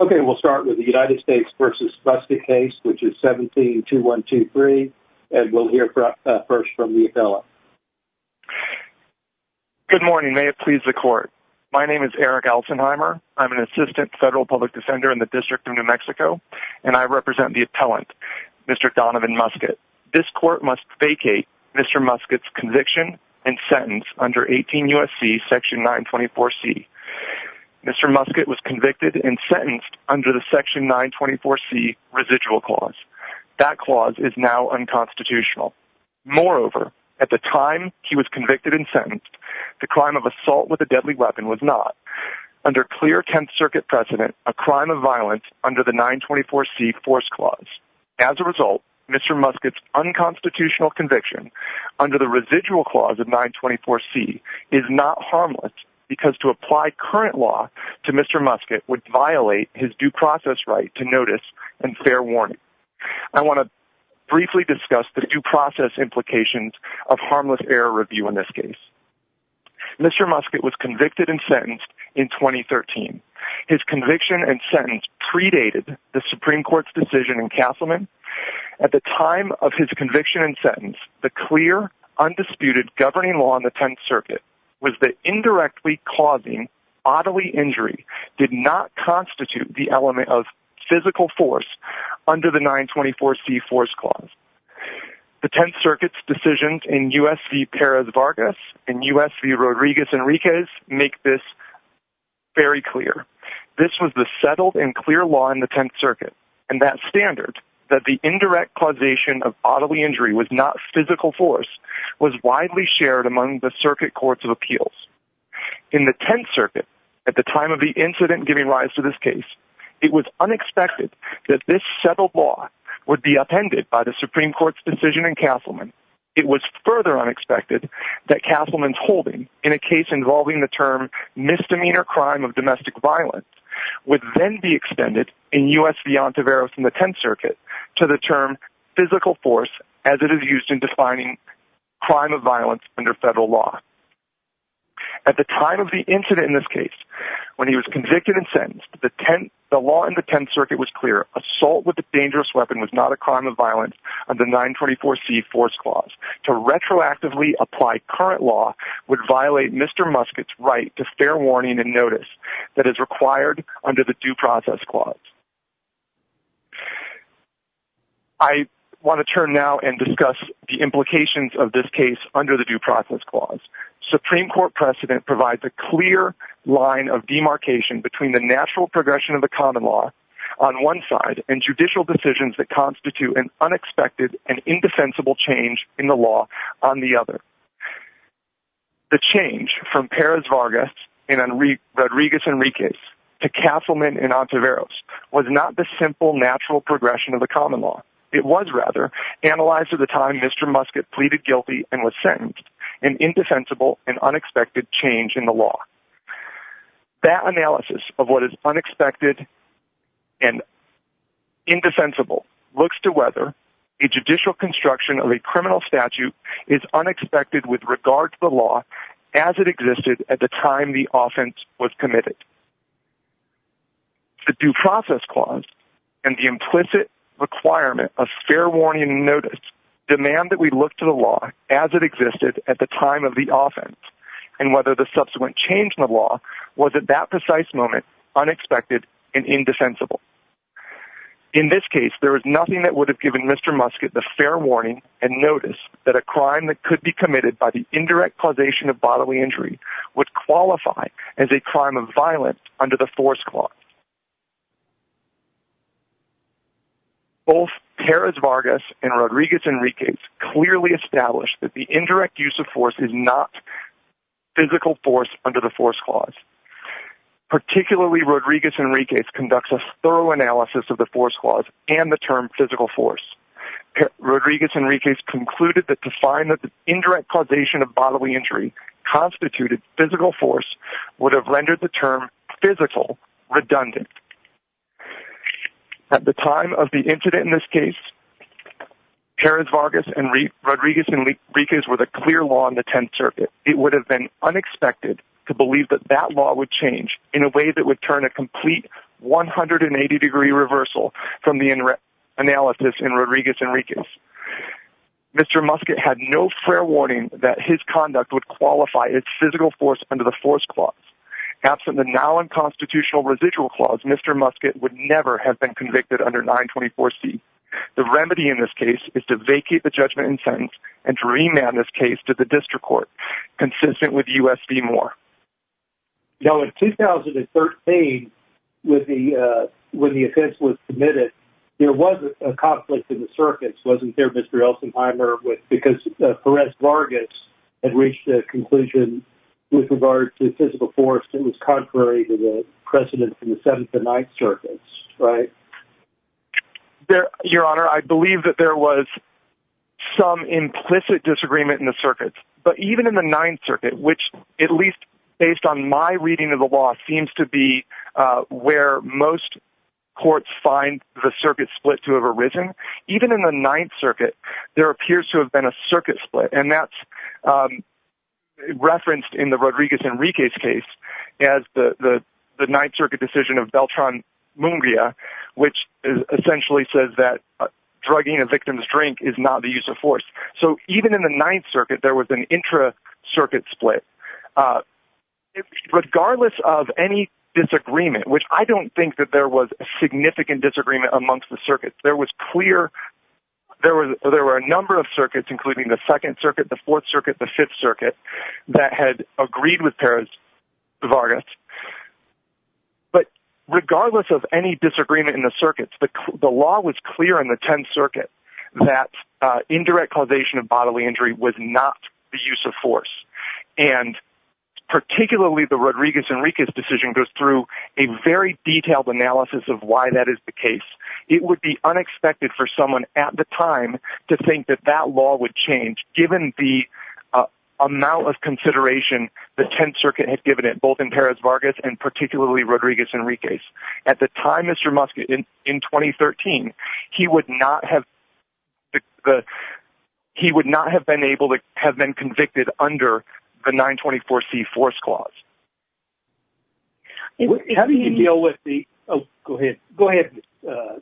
Okay, we'll start with the United States v. Muskett case, which is 17-2123. And we'll hear first from the appellant. Good morning. May it please the court. My name is Eric Altenheimer. I'm an assistant federal public defender in the District of New Mexico, and I represent the appellant, Mr. Donovan Muskett. This court must vacate Mr. Muskett's conviction and sentence under 18 U.S.C. section 924C. Mr. Muskett was convicted and sentenced under the section 924C residual clause. That clause is now unconstitutional. Moreover, at the time he was convicted and sentenced, the crime of assault with a deadly weapon was not. Under clear Tenth Circuit precedent, a crime of violence under the 924C force clause. As a result, Mr. Muskett's unconstitutional conviction under the residual clause of 924C is not harmless because to apply current law to Mr. Muskett would violate his due process right to notice and fair warning. I want to briefly discuss the due process implications of harmless error review in this case. Mr. Muskett was convicted and sentenced in 2013. His conviction and sentence predated the Supreme Court's decision in Castleman. At the time of his conviction and sentence, the clear, undisputed governing law in the Tenth Circuit was that indirectly causing bodily injury did not constitute the element of physical force under the 924C force clause. The Tenth Circuit's decisions in U.S. v. Perez Vargas and U.S. v. Rodriguez Enriquez make this very clear. This was the settled and clear law in the Tenth Circuit. And that standard, that the indirect causation of bodily injury was not physical force, was widely shared among the circuit courts of appeals. In the Tenth Circuit, at the time of the incident giving rise to this case, it was unexpected that this settled law would be upended by the Supreme Court's decision in Castleman. It was further unexpected that Castleman's holding in a case involving the term misdemeanor crime of domestic violence would then be extended in U.S. v. Ontivero from the Tenth Circuit to the term physical force as it is used in defining crime of violence under federal law. At the time of the incident in this case, when he was convicted and sentenced, the law in the Tenth Circuit was clear. Assault with a dangerous weapon was not a crime of violence under the 924C force clause. To retroactively apply current law would violate Mr. Musket's right to fair warning and notice that is required under the due process clause. I want to turn now and discuss the implications of this case under the due process clause. Supreme Court precedent provides a clear line of demarcation between the natural progression of the common law on one side and judicial decisions that constitute an unexpected and indefensible change in the law on the other. The change from Perez Vargas and Rodriguez Enriquez to Castleman and Ontiveros was not the simple natural progression of the common law. It was, rather, analyzed at the time Mr. Musket pleaded guilty and was sentenced, an indefensible and unexpected change in the law. That analysis of what is unexpected and indefensible looks to whether a judicial construction of a criminal statute is unexpected with regard to the law as it existed at the time the offense was committed. The due process clause and the implicit requirement of fair warning and notice demand that we look to the law as it existed at the time of the offense and whether the subsequent change in the law was, at that precise moment, unexpected and indefensible. In this case, there is nothing that would have given Mr. Musket the fair warning and notice that a crime that could be committed by the indirect causation of bodily injury would qualify as a crime of violence under the force clause. Both Perez Vargas and Rodriguez Enriquez clearly established that the indirect use of force is not physical force under the force clause. Particularly, Rodriguez Enriquez conducts a thorough analysis of the force clause and the term physical force. Rodriguez Enriquez concluded that to find that the indirect causation of bodily injury constituted physical force would have rendered the term physical redundant. At the time of the incident in this case, Perez Vargas and Rodriguez Enriquez were the clear law in the Tenth Circuit. It would have been unexpected to believe that that law would change in a way that would turn a complete 180-degree reversal from the analysis in Rodriguez Enriquez. Mr. Musket had no fair warning that his conduct would qualify as physical force under the force clause. Absent the now unconstitutional residual clause, Mr. Musket would never have been convicted under 924C. The remedy in this case is to vacate the judgment in sentence and to remand this case to the District Court, consistent with U.S. v. Moore. Now, in 2013, when the offense was committed, there was a conflict in the circuits, wasn't there, Mr. Elsenheimer? Because Perez Vargas had reached a conclusion with regard to physical force that was contrary to the precedent in the Seventh and Ninth Circuits, right? Your Honor, I believe that there was some implicit disagreement in the circuits. But even in the Ninth Circuit, which, at least based on my reading of the law, seems to be where most courts find the circuit split to have arisen, even in the Ninth Circuit, there appears to have been a circuit split. And that's referenced in the Rodriguez Enriquez case, as the Ninth Circuit decision of Beltran Munguia, which essentially says that drugging a victim's drink is not the use of force. So, even in the Ninth Circuit, there was an intra-circuit split. Regardless of any disagreement, which I don't think that there was a significant disagreement amongst the circuits, there was clear... there were a number of circuits, including the Second Circuit, the Fourth Circuit, the Fifth Circuit, that had agreed with Perez Vargas. But regardless of any disagreement in the circuits, the law was clear in the Tenth Circuit that indirect causation of bodily injury was not the use of force. And particularly the Rodriguez Enriquez decision goes through a very detailed analysis of why that is the case. It would be unexpected for someone at the time to think that that law would change, given the amount of consideration the Tenth Circuit had given it, both in Perez Vargas and particularly Rodriguez Enriquez. At the time, Mr. Muskett, in 2013, he would not have... he would not have been able to have been convicted under the 924C Force Clause. How do you deal with the... Oh, go ahead. Go ahead,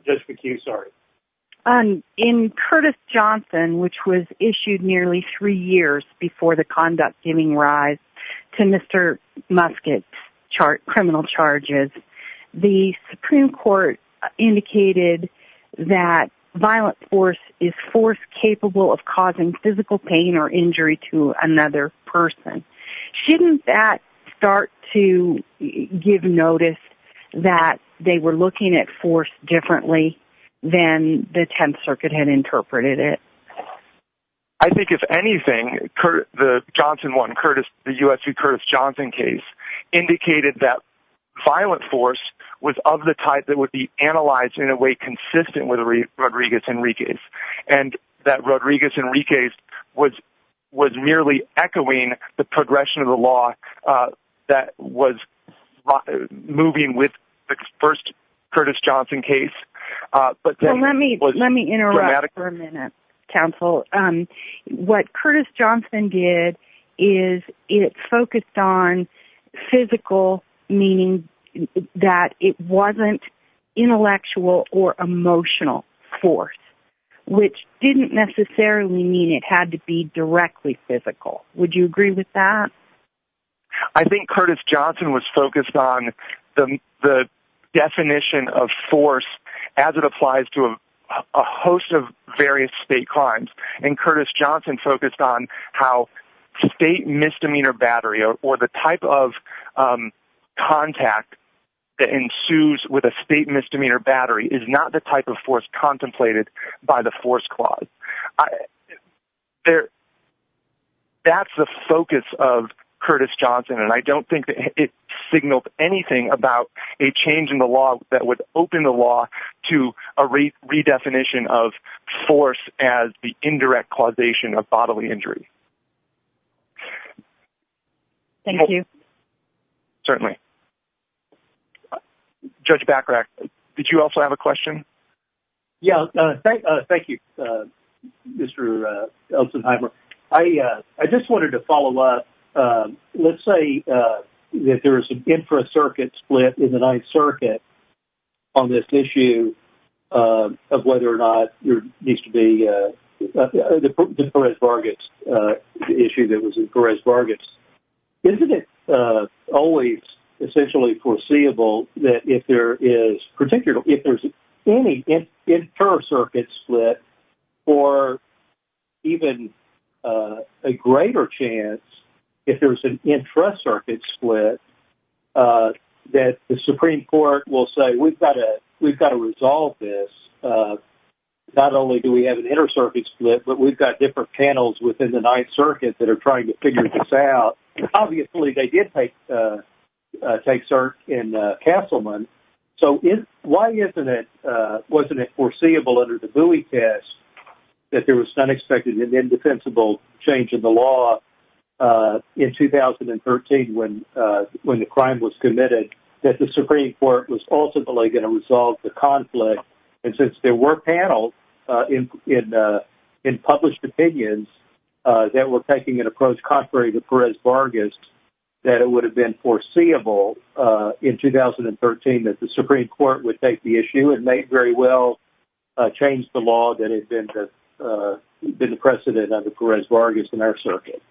Judge McHugh, sorry. In Curtis Johnson, which was issued nearly three years before the conduct giving rise to Mr. Muskett's criminal charges, the Supreme Court indicated that violent force is force capable of causing physical pain or injury to another person. Shouldn't that start to give notice that they were looking at force differently than the Tenth Circuit had interpreted it? I think if anything, the Johnson one, the U.S. v. Curtis Johnson case, indicated that violent force was of the type that would be analyzed in a way consistent with Rodriguez Enriquez, and that Rodriguez Enriquez was merely echoing the progression of the law that was moving with the first Curtis Johnson case. Let me interrupt for a minute, counsel. What Curtis Johnson did is it focused on physical, meaning that it wasn't intellectual or emotional force. Which didn't necessarily mean it had to be directly physical. Would you agree with that? I think Curtis Johnson was focused on the definition of force as it applies to a host of various state crimes, and Curtis Johnson focused on how state misdemeanor battery or the type of contact that ensues with a state misdemeanor battery is not the type of force contemplated by the force clause. That's the focus of Curtis Johnson, and I don't think it signaled anything about a change in the law that would open the law to a redefinition of force as the indirect causation of bodily injury. Thank you. Certainly. Judge Bachrach, did you also have a question? Yeah. Thank you, Mr. Elsenheimer. I just wanted to follow up. Let's say that there is an infracircuit split in the Ninth Circuit on this issue of whether or not there needs to be the Perez-Vargas issue that was in Perez-Vargas. Isn't it always essentially foreseeable that if there is any intracircuit split or even a greater chance if there's an intracircuit split that the Supreme Court will say, we've got to resolve this. Not only do we have an intracircuit split, but we've got different panels within the Ninth Circuit that are trying to figure this out. Obviously, they did take cert in Castleman. Why wasn't it foreseeable under the Bowie test that there was an unexpected and indefensible change in the law in 2013 when the crime was committed that the Supreme Court was ultimately going to resolve the conflict? Since there were panels in published opinions that were taking an approach contrary to Perez-Vargas, that it would have been foreseeable in 2013 that the Supreme Court would take the issue and may very well change the law that had been the precedent under Perez-Vargas in our circuit.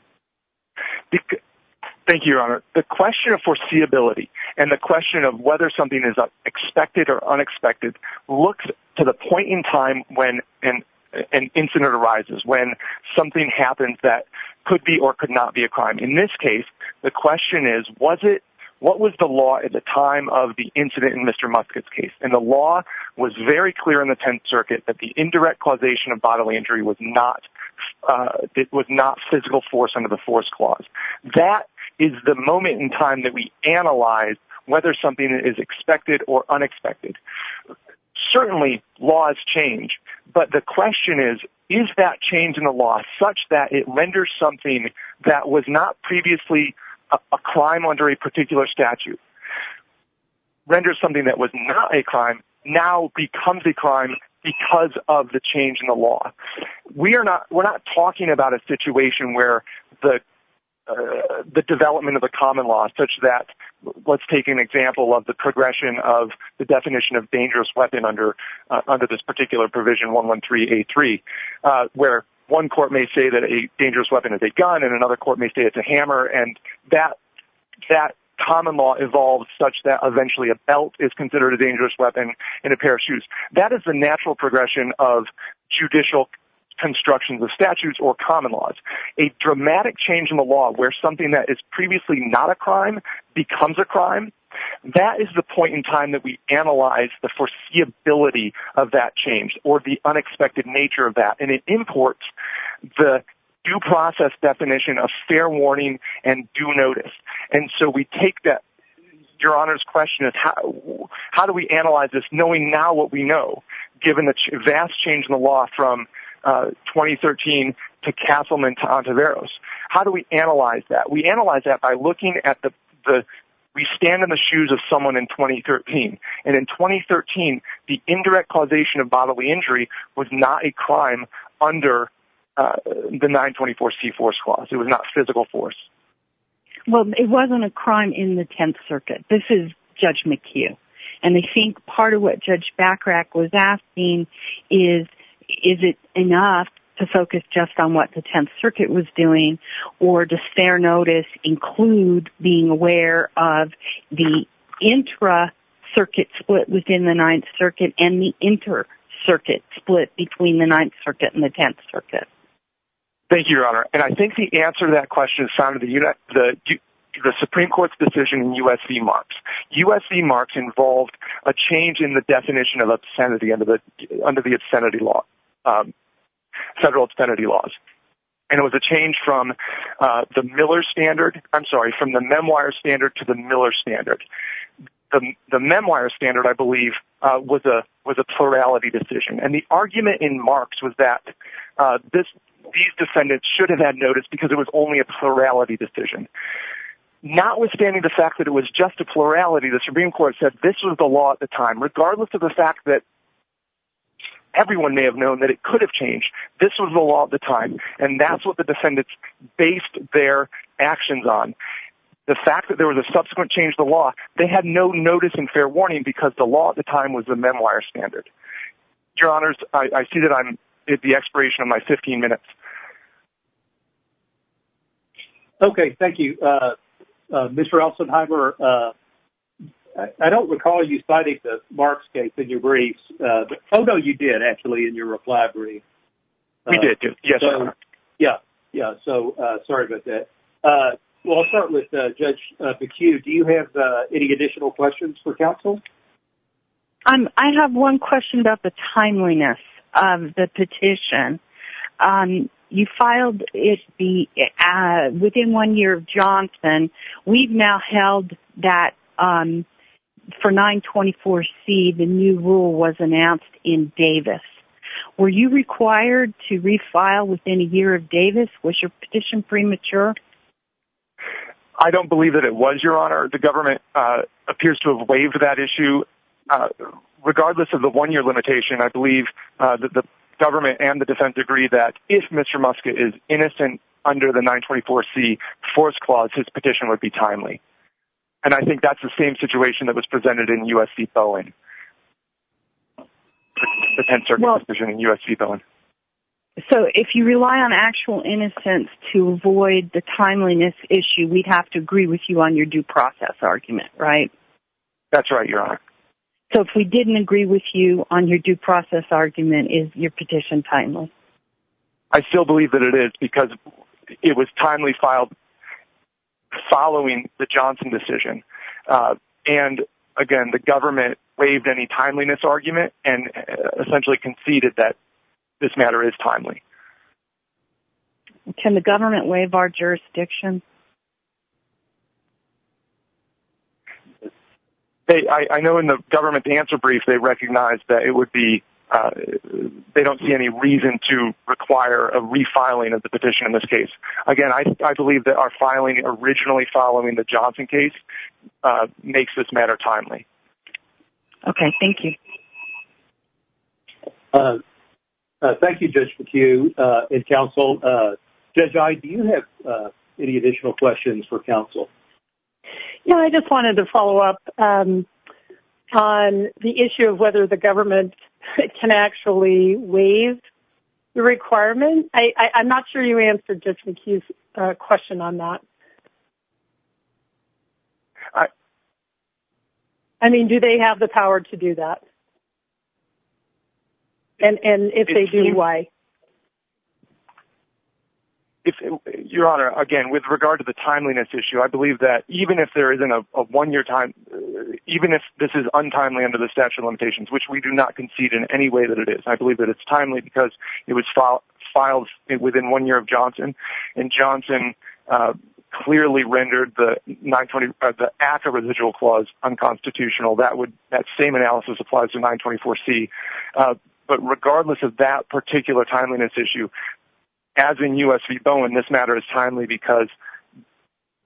Thank you, Your Honor. The question of foreseeability and the question of whether something is expected or unexpected looks to the point in time when an incident arises, when something happens that could be or could not be a crime. In this case, the question is, what was the law at the time of the incident in Mr. Musket's case? And the law was very clear in the Tenth Circuit that the indirect causation of bodily injury was not physical force under the force clause. That is the moment in time that we analyze whether something is expected or unexpected. Certainly, laws change, but the question is, is that change in the law such that it renders something that was not previously a crime under a particular statute, renders something that was not a crime, now becomes a crime because of the change in the law? We are not talking about a situation where the development of a common law such that, let's take an example of the progression of the definition of dangerous weapon under this particular provision, 113A3, where one court may say that a dangerous weapon is a gun and another court may say it's a hammer, and that common law evolves such that eventually a belt is considered a dangerous weapon and a pair of shoes. That is the natural progression of judicial construction of statutes or common laws. A dramatic change in the law where something that is previously not a crime becomes a crime, that is the point in time that we analyze the foreseeability of that change or the unexpected nature of that, and it imports the due process definition of fair warning and due notice. And so we take that Your Honor's question of how do we analyze this knowing now what we know, given the vast change in the law from 2013 to Castleman to Ontiveros. How do we analyze that? We analyze that by looking at the, we stand in the shoes of someone in 2013, and in 2013 the indirect causation of bodily injury was not a crime under the 924C4 clause. It was not physical force. Well, it wasn't a crime in the Tenth Circuit. This is Judge McHugh, and I think part of what Judge Bachrach was asking is, is it enough to focus just on what the Tenth Circuit was doing, or does fair notice include being aware of the intra-circuit split within the Ninth Circuit and the inter-circuit split between the Ninth Circuit and the Tenth Circuit? Thank you, Your Honor. And I think the answer to that question is found in the Supreme Court's decision in U.S.C. Marks. U.S.C. Marks involved a change in the definition of obscenity under the obscenity law, federal obscenity laws. And it was a change from the Miller standard, I'm sorry, from the Memoir standard to the Miller standard. The Memoir standard, I believe, was a plurality decision, and the argument in Marks was that these defendants should have had notice because it was only a plurality decision. Notwithstanding the fact that it was just a plurality, the Supreme Court said this was the law at the time, regardless of the fact that everyone may have known that it could have changed. This was the law at the time, and that's what the defendants based their actions on. The fact that there was a subsequent change to the law, they had no notice and fair warning because the law at the time was the Memoir standard. Your Honors, I see that I'm at the expiration of my 15 minutes. Okay, thank you. Mr. Elsenheimer, I don't recall you citing the Marks case in your briefs. Oh, no, you did, actually, in your reply brief. We did, yes, Your Honor. Yeah, yeah, so sorry about that. Well, I'll start with Judge McHugh. Do you have any additional questions for counsel? I have one question about the timeliness of the petition. You filed it within one year of Johnson. We've now held that for 924C, the new rule was announced in Davis. Were you required to refile within a year of Davis? Was your petition premature? I don't believe that it was, Your Honor. The government appears to have waived that issue. Regardless of the one-year limitation, I believe that the government and the defense agree that if Mr. Muska is innocent under the 924C force clause, his petition would be timely. And I think that's the same situation that was presented in U.S. v. Bowen. So if you rely on actual innocence to avoid the timeliness issue, we'd have to agree with you on your due process argument, right? That's right, Your Honor. So if we didn't agree with you on your due process argument, is your petition timely? I still believe that it is because it was timely filed following the Johnson decision. And, again, the government waived any timeliness argument and essentially conceded that this matter is timely. Can the government waive our jurisdiction? I know in the government's answer brief they recognized that it would be – they don't see any reason to require a refiling of the petition in this case. Again, I believe that our filing originally following the Johnson case makes this matter timely. Okay. Thank you. Thank you, Judge McHugh and counsel. Judge Iye, do you have any additional questions for counsel? I just wanted to follow up on the issue of whether the government can actually waive the requirement. I'm not sure you answered Judge McHugh's question on that. I mean, do they have the power to do that? And if they do, why? Your Honor, again, with regard to the timeliness issue, I believe that even if there isn't a one-year time – even if this is untimely under the statute of limitations, which we do not concede in any way that it is, I believe that it's timely because it was filed within one year of Johnson. And Johnson clearly rendered the act of residual clause unconstitutional. That same analysis applies to 924C. But regardless of that particular timeliness issue, as in U.S. v. Bowen, this matter is timely because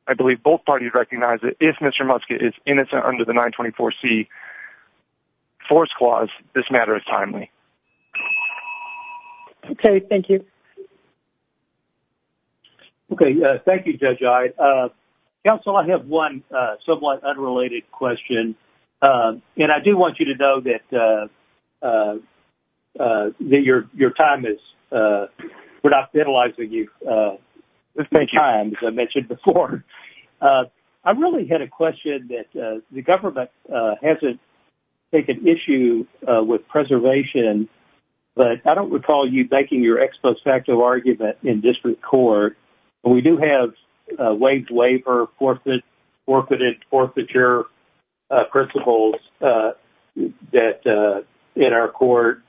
I believe both parties recognize that if Mr. Muska is innocent under the 924C force clause, this matter is timely. Okay. Thank you. Okay. Thank you, Judge Iye. Counsel, I have one somewhat unrelated question. And I do want you to know that your time is – we're not penalizing you. There's been time, as I mentioned before. I really had a question that the government hasn't taken issue with preservation. But I don't recall you making your ex post facto argument in district court. We do have waived labor, forfeited forfeiture principles that – in our court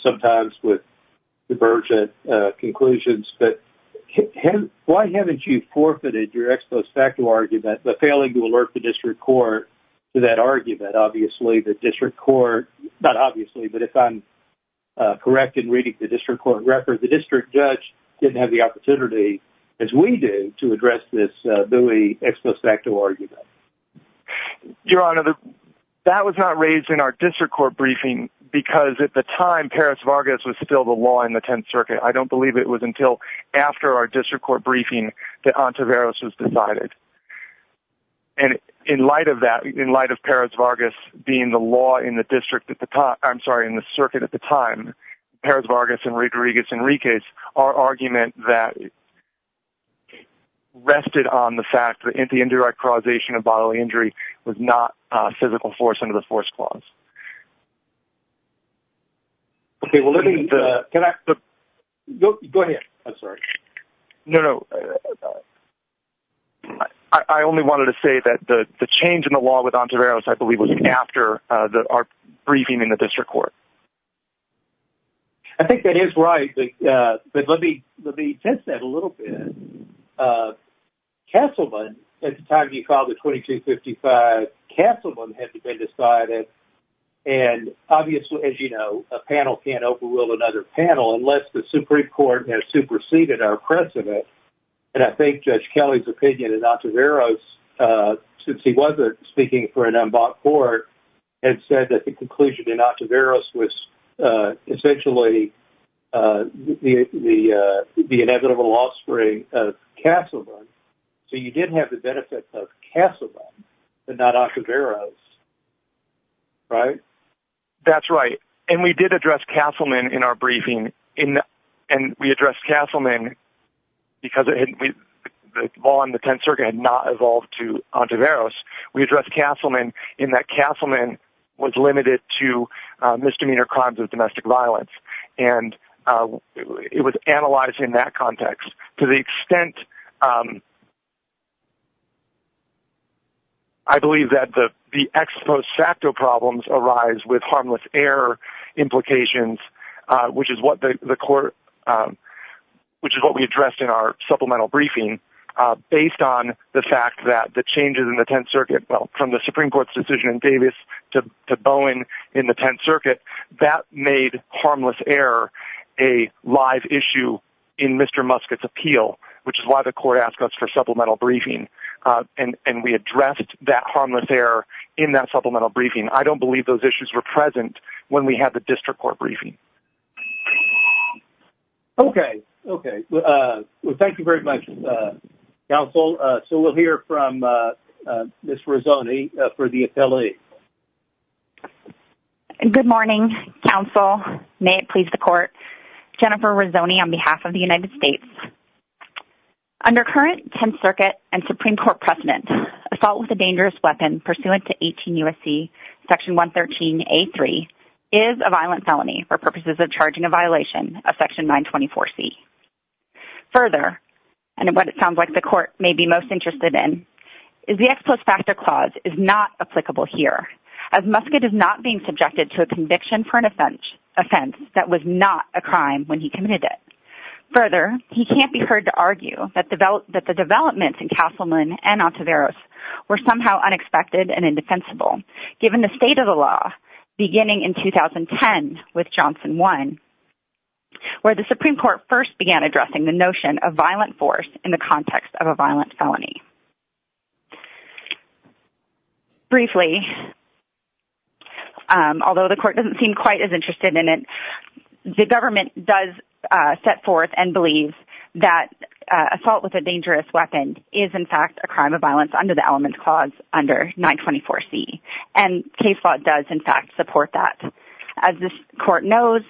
sometimes with divergent conclusions. But why haven't you forfeited your ex post facto argument by failing to alert the district court to that argument? Obviously, the district court – not obviously, but if I'm correct in reading the district court record, the district judge didn't have the opportunity, as we do, to address this Bowie ex post facto argument. Your Honor, that was not raised in our district court briefing because at the time Perez-Vargas was still the law in the Tenth Circuit. I don't believe it was until after our district court briefing that Ontiveros was decided. And in light of that, in light of Perez-Vargas being the law in the district – I'm sorry, in the circuit at the time, Perez-Vargas and Rodriguez-Enriquez, our argument rested on the fact that the indirect causation of bodily injury was not physical force under the force clause. Okay, well let me – can I – go ahead. I'm sorry. No, no. I only wanted to say that the change in the law with Ontiveros, I believe, was after our briefing in the district court. I think that is right, but let me test that a little bit. Castleman, at the time he filed the 2255, Castleman had been decided, and obviously, as you know, a panel can't overrule another panel unless the Supreme Court has superseded our precedent. And I think Judge Kelly's opinion in Ontiveros, since he wasn't speaking for an unbought court, had said that the conclusion in Ontiveros was essentially the inevitable offspring of Castleman. So you did have the benefit of Castleman and not Ontiveros, right? That's right. And we did address Castleman in our briefing, and we addressed Castleman because the law in the 10th Circuit had not evolved to Ontiveros. We addressed Castleman in that Castleman was limited to misdemeanor crimes of domestic violence, and it was analyzed in that context. To the extent, I believe that the ex post facto problems arise with harmless error implications, which is what we addressed in our supplemental briefing, based on the fact that the changes in the 10th Circuit, from the Supreme Court's decision in Davis to Bowen in the 10th Circuit, that made harmless error a live issue in Mr. Musket's appeal, which is why the court asked us for supplemental briefing. And we addressed that harmless error in that supplemental briefing. I don't believe those issues were present when we had the district court briefing. Okay. Okay. Well, thank you very much, counsel. So we'll hear from Ms. Rizzoni for the affiliate. Good morning, counsel. May it please the court. Jennifer Rizzoni on behalf of the United States. Under current 10th Circuit and Supreme Court precedent, assault with a dangerous weapon pursuant to 18 U.S.C. section 113A3 is a violent felony for purposes of charging a violation of section 924C. Further, and what it sounds like the court may be most interested in, is the ex post facto clause is not applicable here, as Musket is not being subjected to a conviction for an offense that was not a crime when he committed it. Further, he can't be heard to argue that the developments in Castleman and Ontiveros were somehow unexpected and indefensible, given the state of the law beginning in 2010 with Johnson 1, where the Supreme Court first began addressing the notion of violent force in the context of a violent felony. Briefly, although the court doesn't seem quite as interested in it, the government does set forth and believes that assault with a dangerous weapon is, in fact, a crime of violence under the element clause under 924C, and case law does, in fact, support that. As this court knows,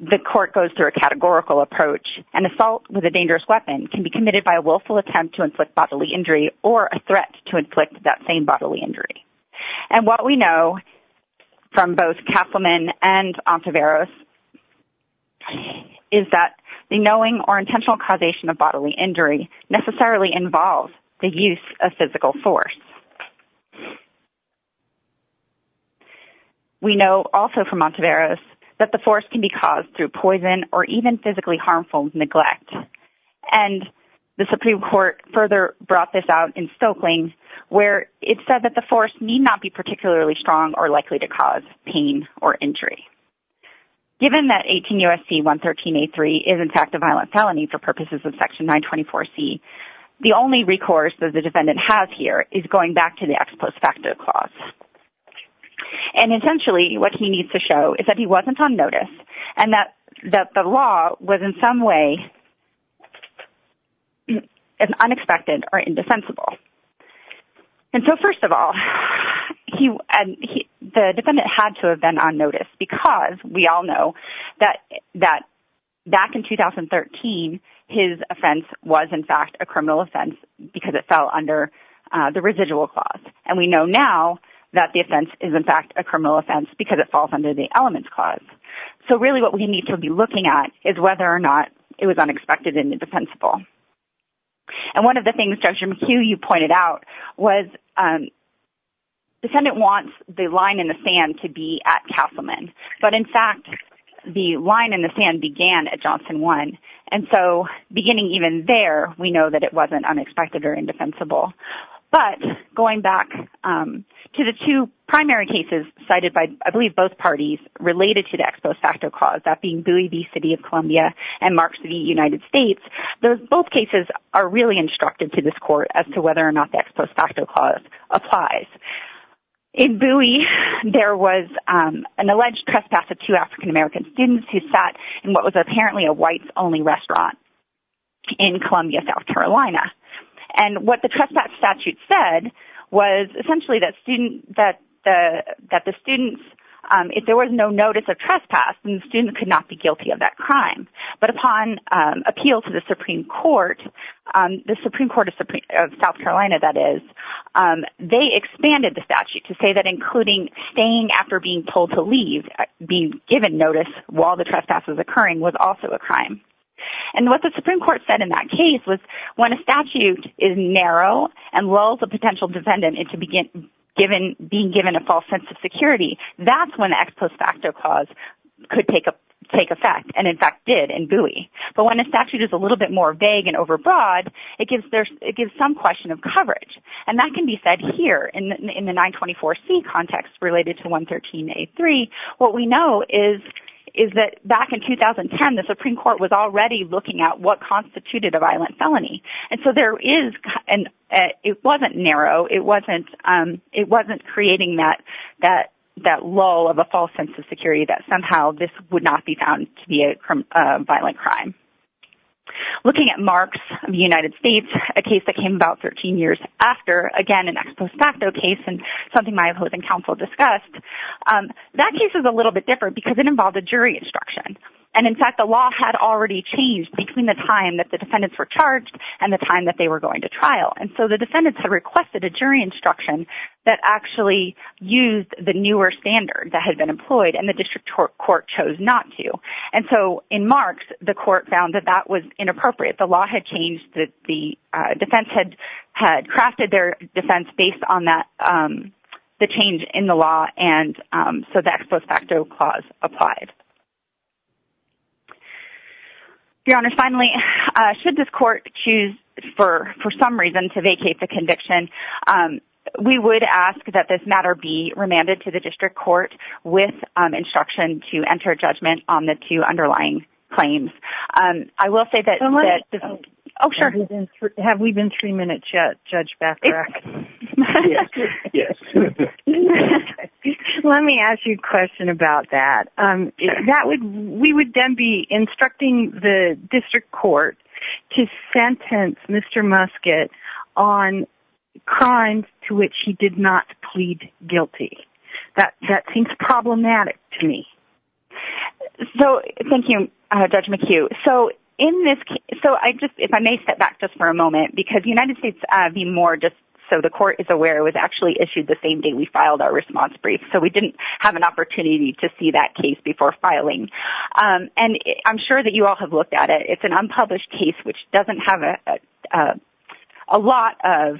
the court goes through a categorical approach, and assault with a dangerous weapon can be committed by a willful attempt to inflict bodily injury or a threat to inflict that same bodily injury. And what we know from both Castleman and Ontiveros is that the knowing or intentional causation of bodily injury necessarily involves the use of physical force. We know also from Ontiveros that the force can be caused through poison or even physically harmful neglect, and the Supreme Court further brought this out in Stokling, where it said that the force need not be particularly strong or likely to cause pain or injury. Given that 18 U.S.C. 113A3 is, in fact, a violent felony for purposes of Section 924C, the only recourse that the defendant has here is going back to the ex post facto clause. And essentially, what he needs to show is that he wasn't on notice and that the law was in some way unexpected or indefensible. And so first of all, the defendant had to have been on notice because we all know that back in 2013, his offense was, in fact, a criminal offense because it fell under the residual clause. And we know now that the offense is, in fact, a criminal offense because it falls under the elements clause. So really what we need to be looking at is whether or not it was unexpected and indefensible. And one of the things, Judge McHugh, you pointed out was the defendant wants the line in the sand to be at Castleman. But, in fact, the line in the sand began at Johnson 1, and so beginning even there, we know that it wasn't unexpected or indefensible. But going back to the two primary cases cited by, I believe, both parties related to the ex post facto clause, that being Bowie v. City of Columbia and Marks v. United States, both cases are really instructive to this court as to whether or not the ex post facto clause applies. In Bowie, there was an alleged trespass of two African-American students who sat in what was apparently a whites-only restaurant in Columbia, South Carolina. And what the trespass statute said was essentially that the students, if there was no notice of trespass, then the student could not be guilty of that crime. But upon appeal to the Supreme Court, the Supreme Court of South Carolina, that is, they expanded the statute to say that including staying after being told to leave, being given notice while the trespass was occurring, was also a crime. And what the Supreme Court said in that case was when a statute is narrow and lulls a potential defendant into being given a false sense of security, that's when the ex post facto clause could take effect, and in fact did in Bowie. But when a statute is a little bit more vague and overbroad, it gives some question of coverage. And that can be said here in the 924C context related to 113A3. What we know is that back in 2010, the Supreme Court was already looking at what constituted a violent felony. And so there is, and it wasn't narrow, it wasn't creating that lull of a false sense of security that somehow this would not be found to be a violent crime. Looking at Marks v. United States, a case that came about 13 years after, again an ex post facto case and something my opposing counsel discussed, that case is a little bit different because it involved a jury instruction. And in fact, the law had already changed between the time that the defendants were charged and the time that they were going to trial. And so the defendants had requested a jury instruction that actually used the newer standard that had been employed and the district court chose not to. And so in Marks, the court found that that was inappropriate. The law had changed. The defense had crafted their defense based on the change in the law, and so the ex post facto clause applied. Your Honor, finally, should this court choose for some reason to vacate the conviction, we would ask that this matter be remanded to the district court with instruction to enter judgment on the two underlying claims. I will say that... Oh, sure. Have we been three minutes yet, Judge Bethreck? Yes. Let me ask you a question about that. That would... We would then be instructing the district court to sentence Mr. Musket on crimes to which he did not plead guilty. That seems problematic to me. So... Thank you, Judge McHugh. So in this case... So I just... If I may step back just for a moment, because the United States be more just so the court is aware was actually issued the same day we filed our response brief, so we didn't have an opportunity to see that case before filing. And I'm sure that you all have looked at it. It's an unpublished case which doesn't have a lot of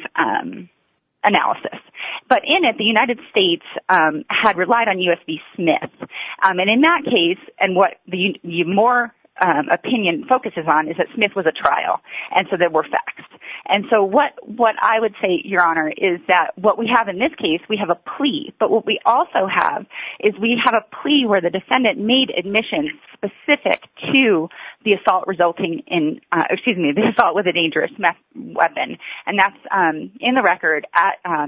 analysis. But in it, the United States had relied on U.S. v. Smith. And in that case, and what the more opinion focuses on is that Smith was at trial, and so there were facts. And so what I would say, Your Honor, is that what we have in this case, we have a plea. But what we also have is we have a plea where the defendant made admissions specific to the assault resulting in... Excuse me, the assault with a dangerous weapon. And that's in the record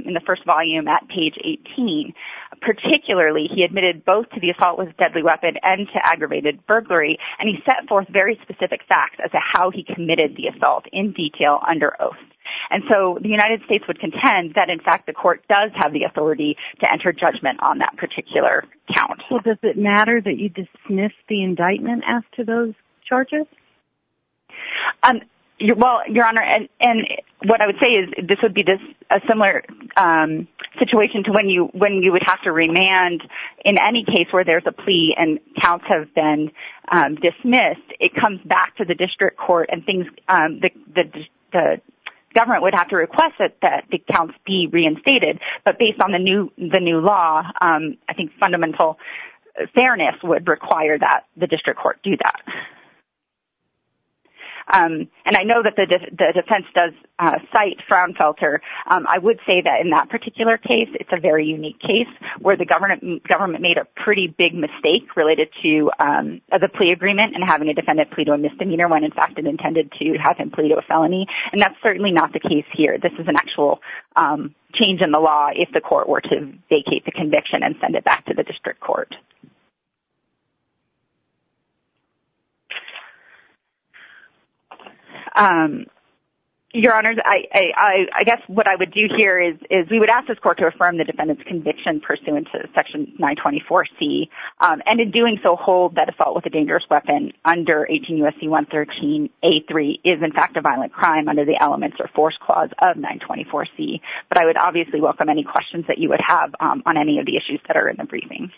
in the first volume at page 18. Particularly, he admitted both to the assault with a deadly weapon and to aggravated burglary, and he set forth very specific facts as to how he committed the assault in detail under oath. And so the United States would contend that, in fact, the court does have the authority to enter judgment on that particular count. Well, does it matter that you dismiss the indictment after those charges? Well, Your Honor, and what I would say is this would be a similar situation to when you would have to remand. In any case where there's a plea and counts have been dismissed, it comes back to the district court, and the government would have to request that the counts be reinstated. But based on the new law, I think fundamental fairness would require that the district court do that. And I know that the defense does cite Fraunfelter. I would say that in that particular case, it's a very unique case where the government made a pretty big mistake related to the plea agreement and having a defendant plea to a misdemeanor when, in fact, it intended to have him plea to a felony, and that's certainly not the case here. This is an actual change in the law if the court were to vacate the conviction and send it back to the district court. Your Honors, I guess what I would do here is we would ask this court to affirm the defendant's conviction pursuant to Section 924C, and in doing so, hold that a fault with a dangerous weapon under 18 U.S.C. 113A3 is, in fact, a violent crime under the Elements or Force Clause of 924C. But I would obviously welcome any questions that you would have on any of the issues that are in the briefing.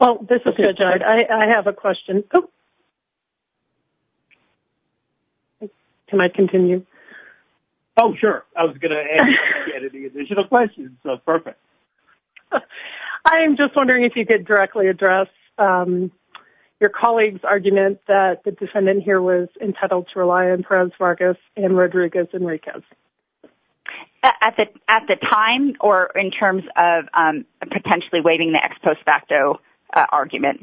Well, this is good. I have a question. Can I continue? Oh, sure. I was going to ask you any additional questions, so perfect. I am just wondering if you could directly address your colleague's argument that the defendant here was entitled to rely on Perez-Vargas and Rodriguez-Enriquez. At the time or in terms of potentially waiving the ex post facto argument?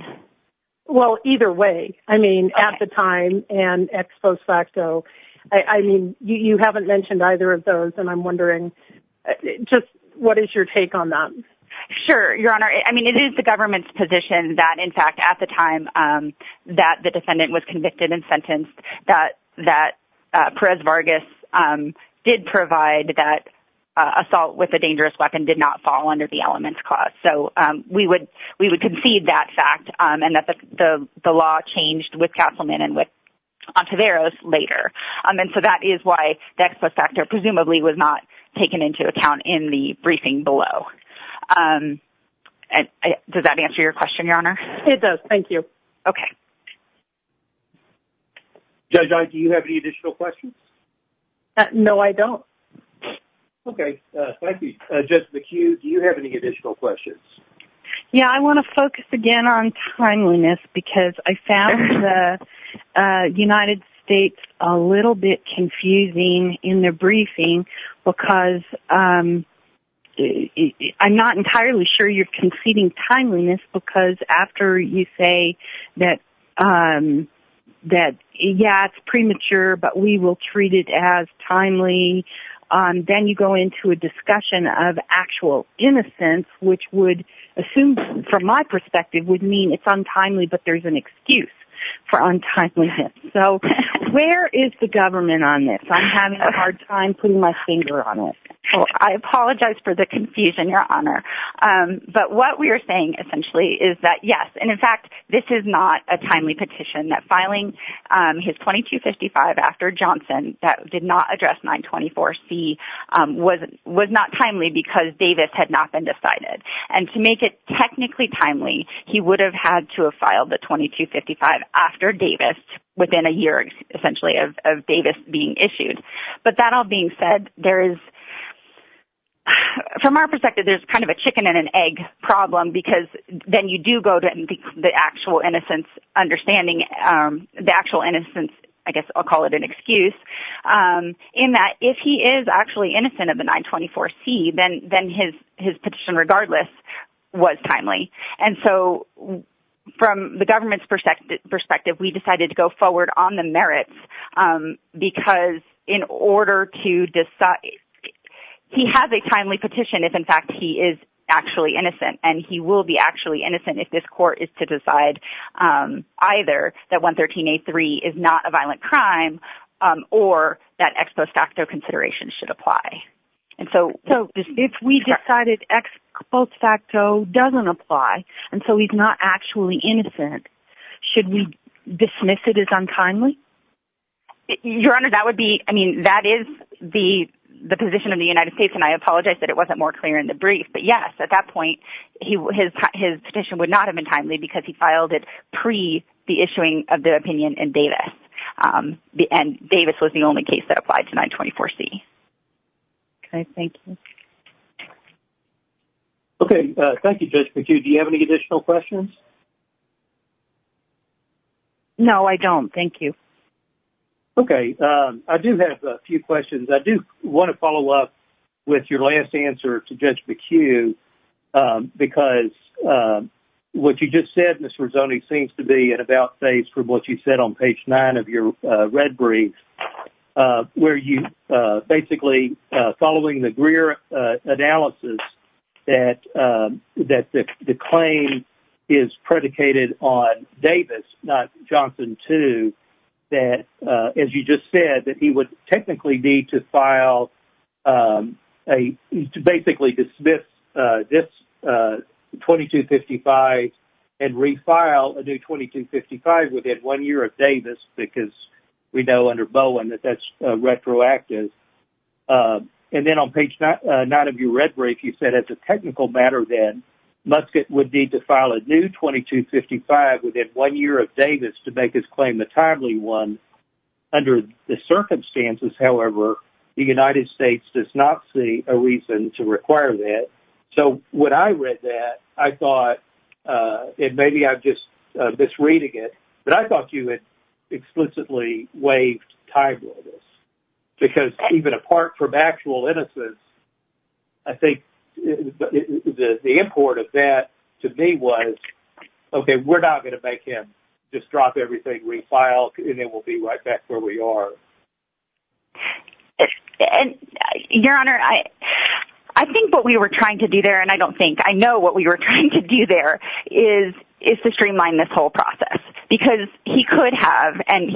Well, either way. I mean, at the time and ex post facto. I mean, you haven't mentioned either of those, and I'm wondering just what is your take on that? Sure, Your Honor. I mean, it is the government's position that, in fact, at the time that the defendant was convicted and sentenced, that Perez-Vargas did provide that assault with a dangerous weapon did not fall under the Elements Clause. So we would concede that fact and that the law changed with Castleman and with Ontiveros later. And so that is why the ex post facto presumably was not taken into account in the briefing below. Does that answer your question, Your Honor? It does. Thank you. Okay. Judge Ott, do you have any additional questions? No, I don't. Okay. Thank you. Judge McHugh, do you have any additional questions? Yeah, I want to focus again on timeliness because I found the United States a little bit confusing in the briefing because I'm not entirely sure you're conceding timeliness because after you say that, yeah, it's premature, but we will treat it as timely, then you go into a discussion of actual innocence, which would assume from my perspective would mean it's untimely, but there's an excuse for untimeliness. So where is the government on this? I'm having a hard time putting my finger on it. Well, I apologize for the confusion, Your Honor. But what we are saying essentially is that, yes, and in fact this is not a timely petition, that filing his 2255 after Johnson that did not address 924C was not timely because Davis had not been decided. And to make it technically timely, he would have had to have filed the 2255 after Davis within a year, essentially, of Davis being issued. But that all being said, there is, from our perspective, there's kind of a chicken and an egg problem because then you do go to the actual innocence understanding, the actual innocence, I guess I'll call it an excuse, in that if he is actually innocent of the 924C, then his petition regardless was timely. And so from the government's perspective, we decided to go forward on the merits because in order to decide, he has a timely petition if, in fact, he is actually innocent and he will be actually innocent if this court is to decide either that 113A3 is not a violent crime or that ex post facto consideration should apply. And so if we decided ex post facto doesn't apply and so he's not actually innocent, should we dismiss it as untimely? Your Honor, that would be, I mean, that is the position of the United States, and I apologize that it wasn't more clear in the brief. But, yes, at that point his petition would not have been timely because he filed it pre the issuing of the opinion in Davis, and Davis was the only case that applied to 924C. Okay. Thank you. Okay. Thank you, Judge McHugh. Do you have any additional questions? No, I don't. Thank you. Okay. I do have a few questions. I do want to follow up with your last answer to Judge McHugh because what you just said, Mr. Rizzoni, seems to be at about face from what you said on page 9 of your red brief where you basically following the Greer analysis that the claim is predicated on Davis, not Johnson too, that, as you just said, that he would technically need to file a, to basically dismiss this 2255 and refile a new 2255 within one year of Davis because we know under Bowen that that's retroactive. And then on page 9 of your red brief you said as a technical matter then Muscat would need to file a new 2255 within one year of Davis to make his claim a timely one. Under the circumstances, however, the United States does not see a reason to require that. So when I read that, I thought, and maybe I'm just misreading it, but I thought you had explicitly waived timeliness because even apart from actual innocence, I think the import of that to me was, okay, we're not going to make him just drop everything, refile, and then we'll be right back where we are. Your Honor, I think what we were trying to do there, and I don't think, I know what we were trying to do there, is to streamline this whole process because he could have, and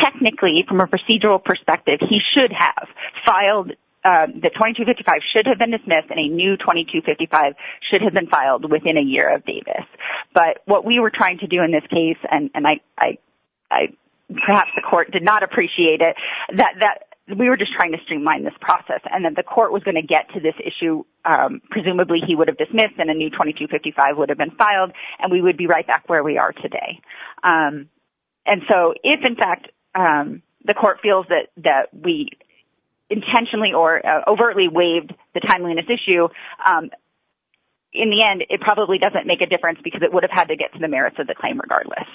technically from a procedural perspective, he should have filed the 2255, should have been dismissed, and a new 2255 should have been filed within a year of Davis. But what we were trying to do in this case, and perhaps the court did not appreciate it, that we were just trying to streamline this process and that the court was going to get to this issue, presumably he would have dismissed and a new 2255 would have been filed and we would be right back where we are today. And so if, in fact, the court feels that we intentionally or overtly waived the timeliness issue, in the end it probably doesn't make a difference because it would have had to get to the merits of the claim regardless.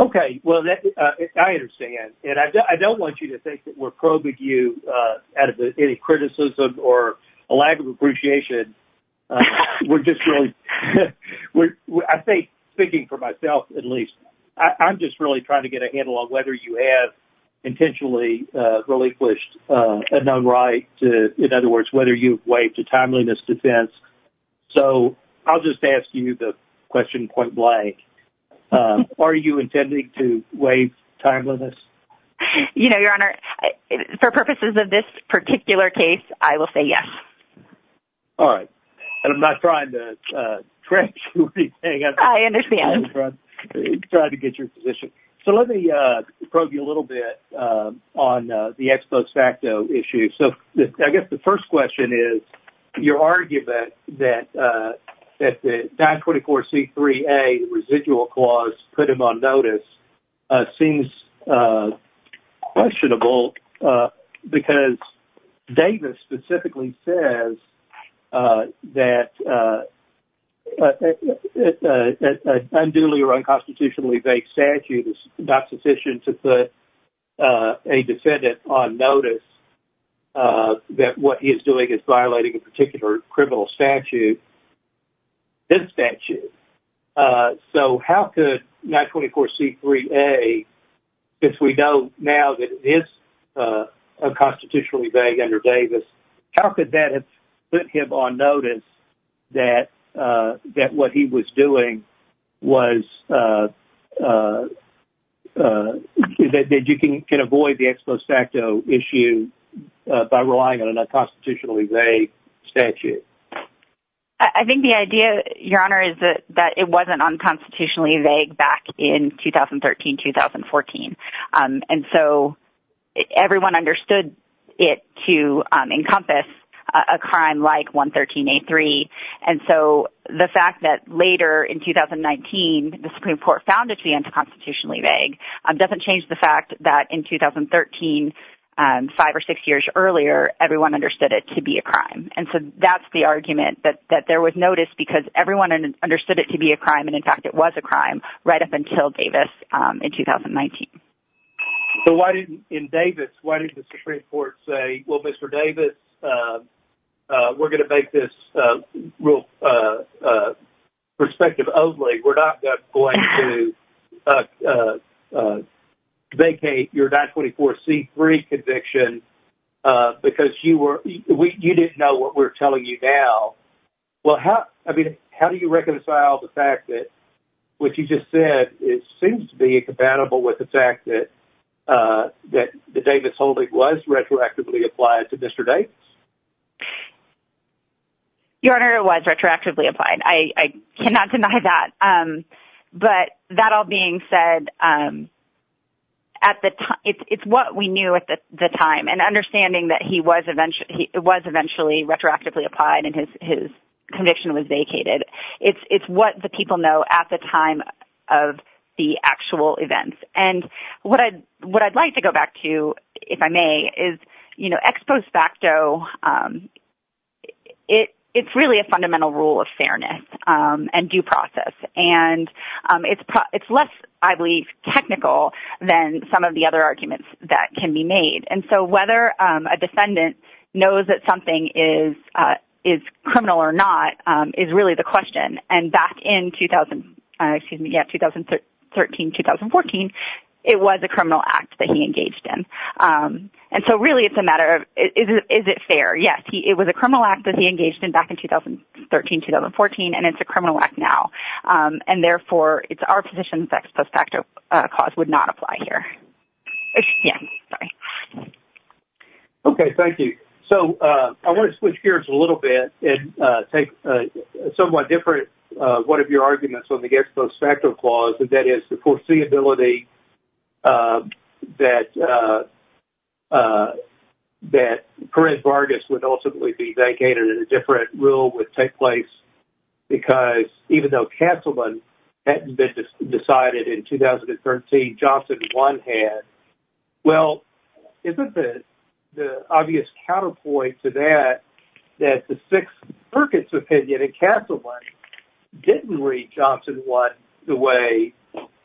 Okay. Well, I understand. And I don't want you to think that we're probing you out of any criticism or a lack of appreciation. We're just really, I think, speaking for myself at least, I'm just really trying to get a handle on whether you have intentionally relinquished a known right to, in other words, whether you've waived a timeliness defense. So I'll just ask you the question point blank. Are you intending to waive timeliness? You know, Your Honor, for purposes of this particular case, I will say yes. All right. And I'm not trying to trick you or anything. I understand. I'm just trying to get your position. So let me probe you a little bit on the ex post facto issue. So I guess the first question is, your argument that the 924C3A residual clause put him on notice seems questionable because Davis specifically says that an unduly or unconstitutionally vague statute is not sufficient to put a defendant on notice that what he is doing is violating a particular criminal statute, his statute. So how could 924C3A, if we know now that it is unconstitutionally vague under Davis, how could that have put him on notice that what he was doing was that you can avoid the ex post facto issue by relying on a unconstitutionally vague statute? I think the idea, Your Honor, is that it wasn't unconstitutionally vague back in 2013, 2014. And so everyone understood it to encompass a crime like 113A3. And so the fact that later in 2019 the Supreme Court found it to be unconstitutionally vague doesn't change the fact that in 2013, five or six years earlier, everyone understood it to be a crime. And so that's the argument, that there was notice because everyone understood it to be a crime and, in fact, it was a crime right up until Davis in 2019. So why didn't, in Davis, why didn't the Supreme Court say, well, Mr. Davis, we're going to make this perspective only. We're not going to vacate your 924C3 conviction because you didn't know what we're telling you now. Well, I mean, how do you reconcile the fact that what you just said, it seems to be incompatible with the fact that the Davis holding was retroactively applied to Mr. Davis? Your Honor, it was retroactively applied. I cannot deny that. But that all being said, it's what we knew at the time. And understanding that it was eventually retroactively applied and his conviction was vacated, it's what the people know at the time of the actual events. And what I'd like to go back to, if I may, is ex post facto, it's really a fundamental rule of fairness and due process. And it's less, I believe, technical than some of the other arguments that can be made. And so whether a defendant knows that something is criminal or not is really the question. And back in 2013-2014, it was a criminal act that he engaged in. And so really it's a matter of is it fair? Yes, it was a criminal act that he engaged in back in 2013-2014, and it's a criminal act now. And therefore it's our position that ex post facto clause would not apply here. Yeah, sorry. Okay, thank you. So I want to switch gears a little bit and take a somewhat different one of your arguments on the ex post facto clause, and that is the foreseeability that Perrin Vargas would ultimately be vacated and a different rule would take place. Because even though canceling hadn't been decided in 2013, Well, isn't the obvious counterpoint to that, that the Sixth Circuit's opinion in Castleman didn't read Johnson One the way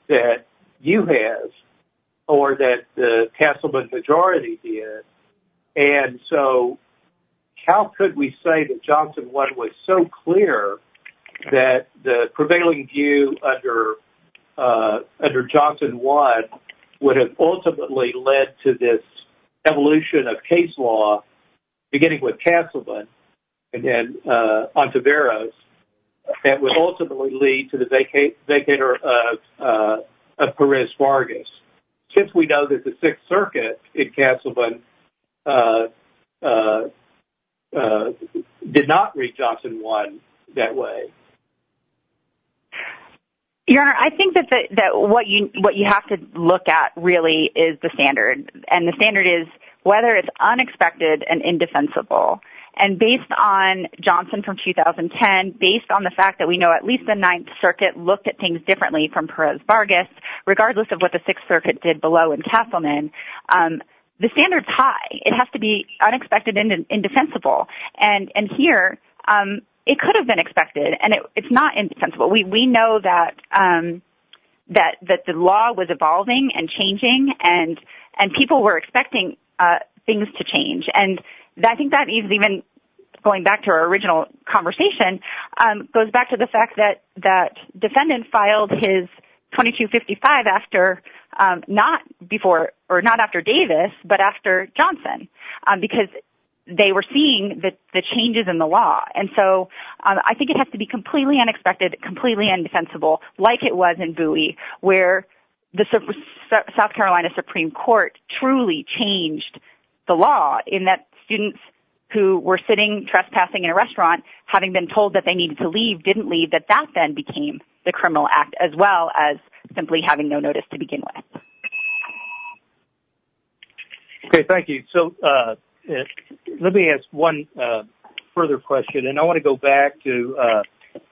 that you have, or that the Castleman majority did. And so how could we say that Johnson One was so clear that the prevailing view under Johnson One would have ultimately led to this evolution of case law, beginning with Castleman and then Ontiveros, that would ultimately lead to the vacater of Perrin Vargas? Since we know that the Sixth Circuit in Castleman did not read Johnson One that way. Your Honor, I think that what you have to look at really is the standard, and the standard is whether it's unexpected and indefensible. And based on Johnson from 2010, based on the fact that we know at least the Ninth Circuit looked at things differently from Perrin Vargas, regardless of what the Sixth Circuit did below in Castleman, the standard's high. It has to be unexpected and indefensible. And here, it could have been expected, and it's not indefensible. We know that the law was evolving and changing, and people were expecting things to change. And I think that even, going back to our original conversation, goes back to the fact that defendants filed his 2255 not after Davis, but after Johnson, because they were seeing the changes in the law. And so I think it has to be completely unexpected, completely indefensible, like it was in Bowie, where the South Carolina Supreme Court truly changed the law, in that students who were sitting trespassing in a restaurant, having been told that they needed to leave, didn't leave, that that then became the criminal act, as well as simply having no notice to begin with. Okay, thank you. So let me ask one further question, and I want to go back to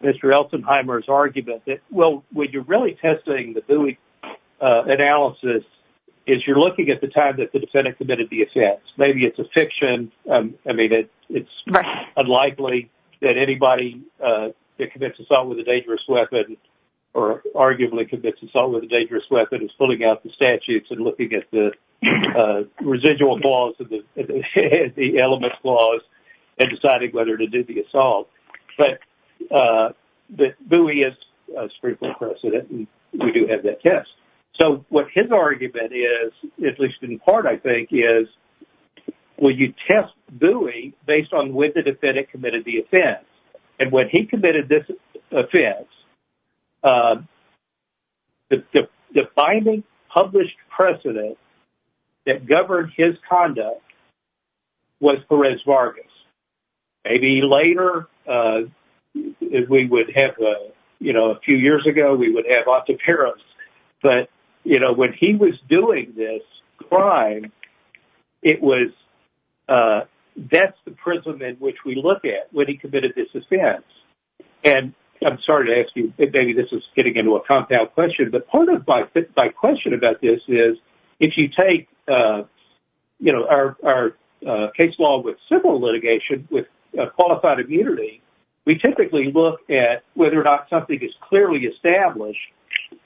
Mr. Elsenheimer's argument that, well, what you're really testing the Bowie analysis is you're looking at the time that the defendant committed the offense. Maybe it's a fiction. I mean, it's unlikely that anybody that commits assault with a dangerous weapon, or arguably commits assault with a dangerous weapon, is pulling out the statutes and looking at the residual flaws, the element flaws, and deciding whether to do the assault. But Bowie is a Supreme Court precedent, and we do have that test. So what his argument is, at least in part, I think, is when you test Bowie based on when the defendant committed the offense, and when he committed this offense, the defining published precedent that governed his conduct was Perez Vargas. Maybe later, if we would have, you know, a few years ago, we would have Octavio Perez, but, you know, when he was doing this crime, it was that's the prism in which we look at when he committed this offense. And I'm sorry to ask you, maybe this is getting into a compound question, but part of my question about this is if you take, you know, our case law with civil litigation with qualified immunity, we typically look at whether or not something is clearly established,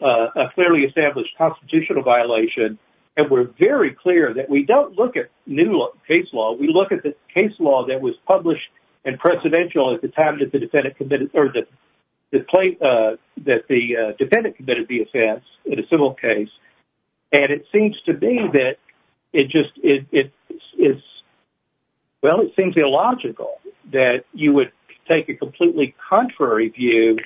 a clearly established constitutional violation, and we're very clear that we don't look at new case law. We look at the case law that was published and precedential at the time that the defendant committed the offense in a civil case. And it seems to be that it just is, well, it seems illogical that you would take a completely contrary view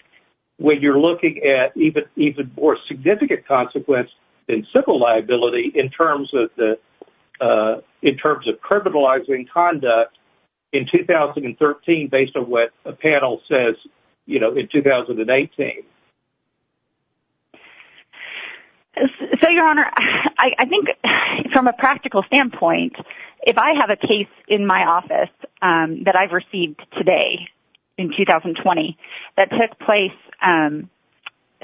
when you're looking at even more significant consequence in civil liability in terms of criminalizing conduct in 2013, based on what a panel says, you know, in 2018. So, Your Honor, I think from a practical standpoint, if I have a case in my office that I've received today in 2020, that took place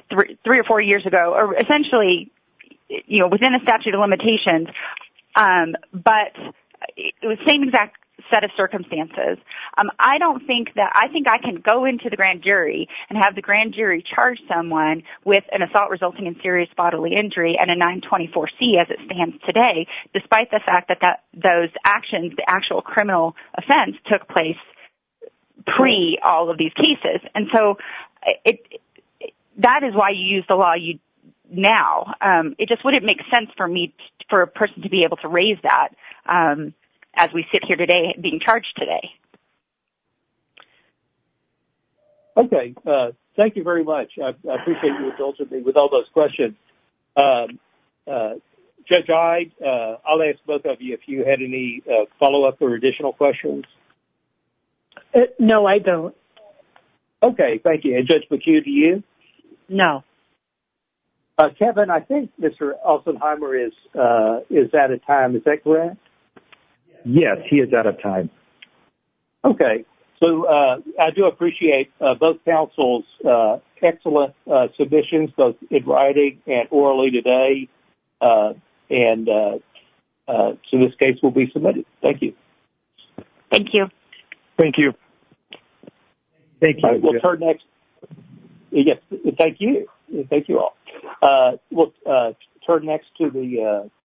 three or four years ago, or essentially, you know, within a statute of limitations, but it was the same exact set of circumstances. I don't think that I think I can go into the grand jury and have the grand jury charge someone with an assault resulting in serious bodily injury and a 924C as it stands today, despite the fact that those actions, the actual criminal offense took place pre all of these cases. And so that is why you use the law now. It just wouldn't make sense for me, for a person to be able to raise that as we sit here today being charged today. Okay. Thank you very much. I appreciate you indulging me with all those questions. Judge Hyde, I'll ask both of you, if you had any follow-up or additional questions. No, I don't. Okay. Thank you. And Judge McHugh, do you? No. Kevin, I think Mr. Olsenheimer is out of time. Is that correct? Yes, he is out of time. Okay. So I do appreciate both counsel's excellent submissions, both in writing and orally today. And so this case will be submitted. Thank you. Thank you. Thank you. Thank you. We'll turn next. Yes, thank you. Thank you all. We'll turn next to the.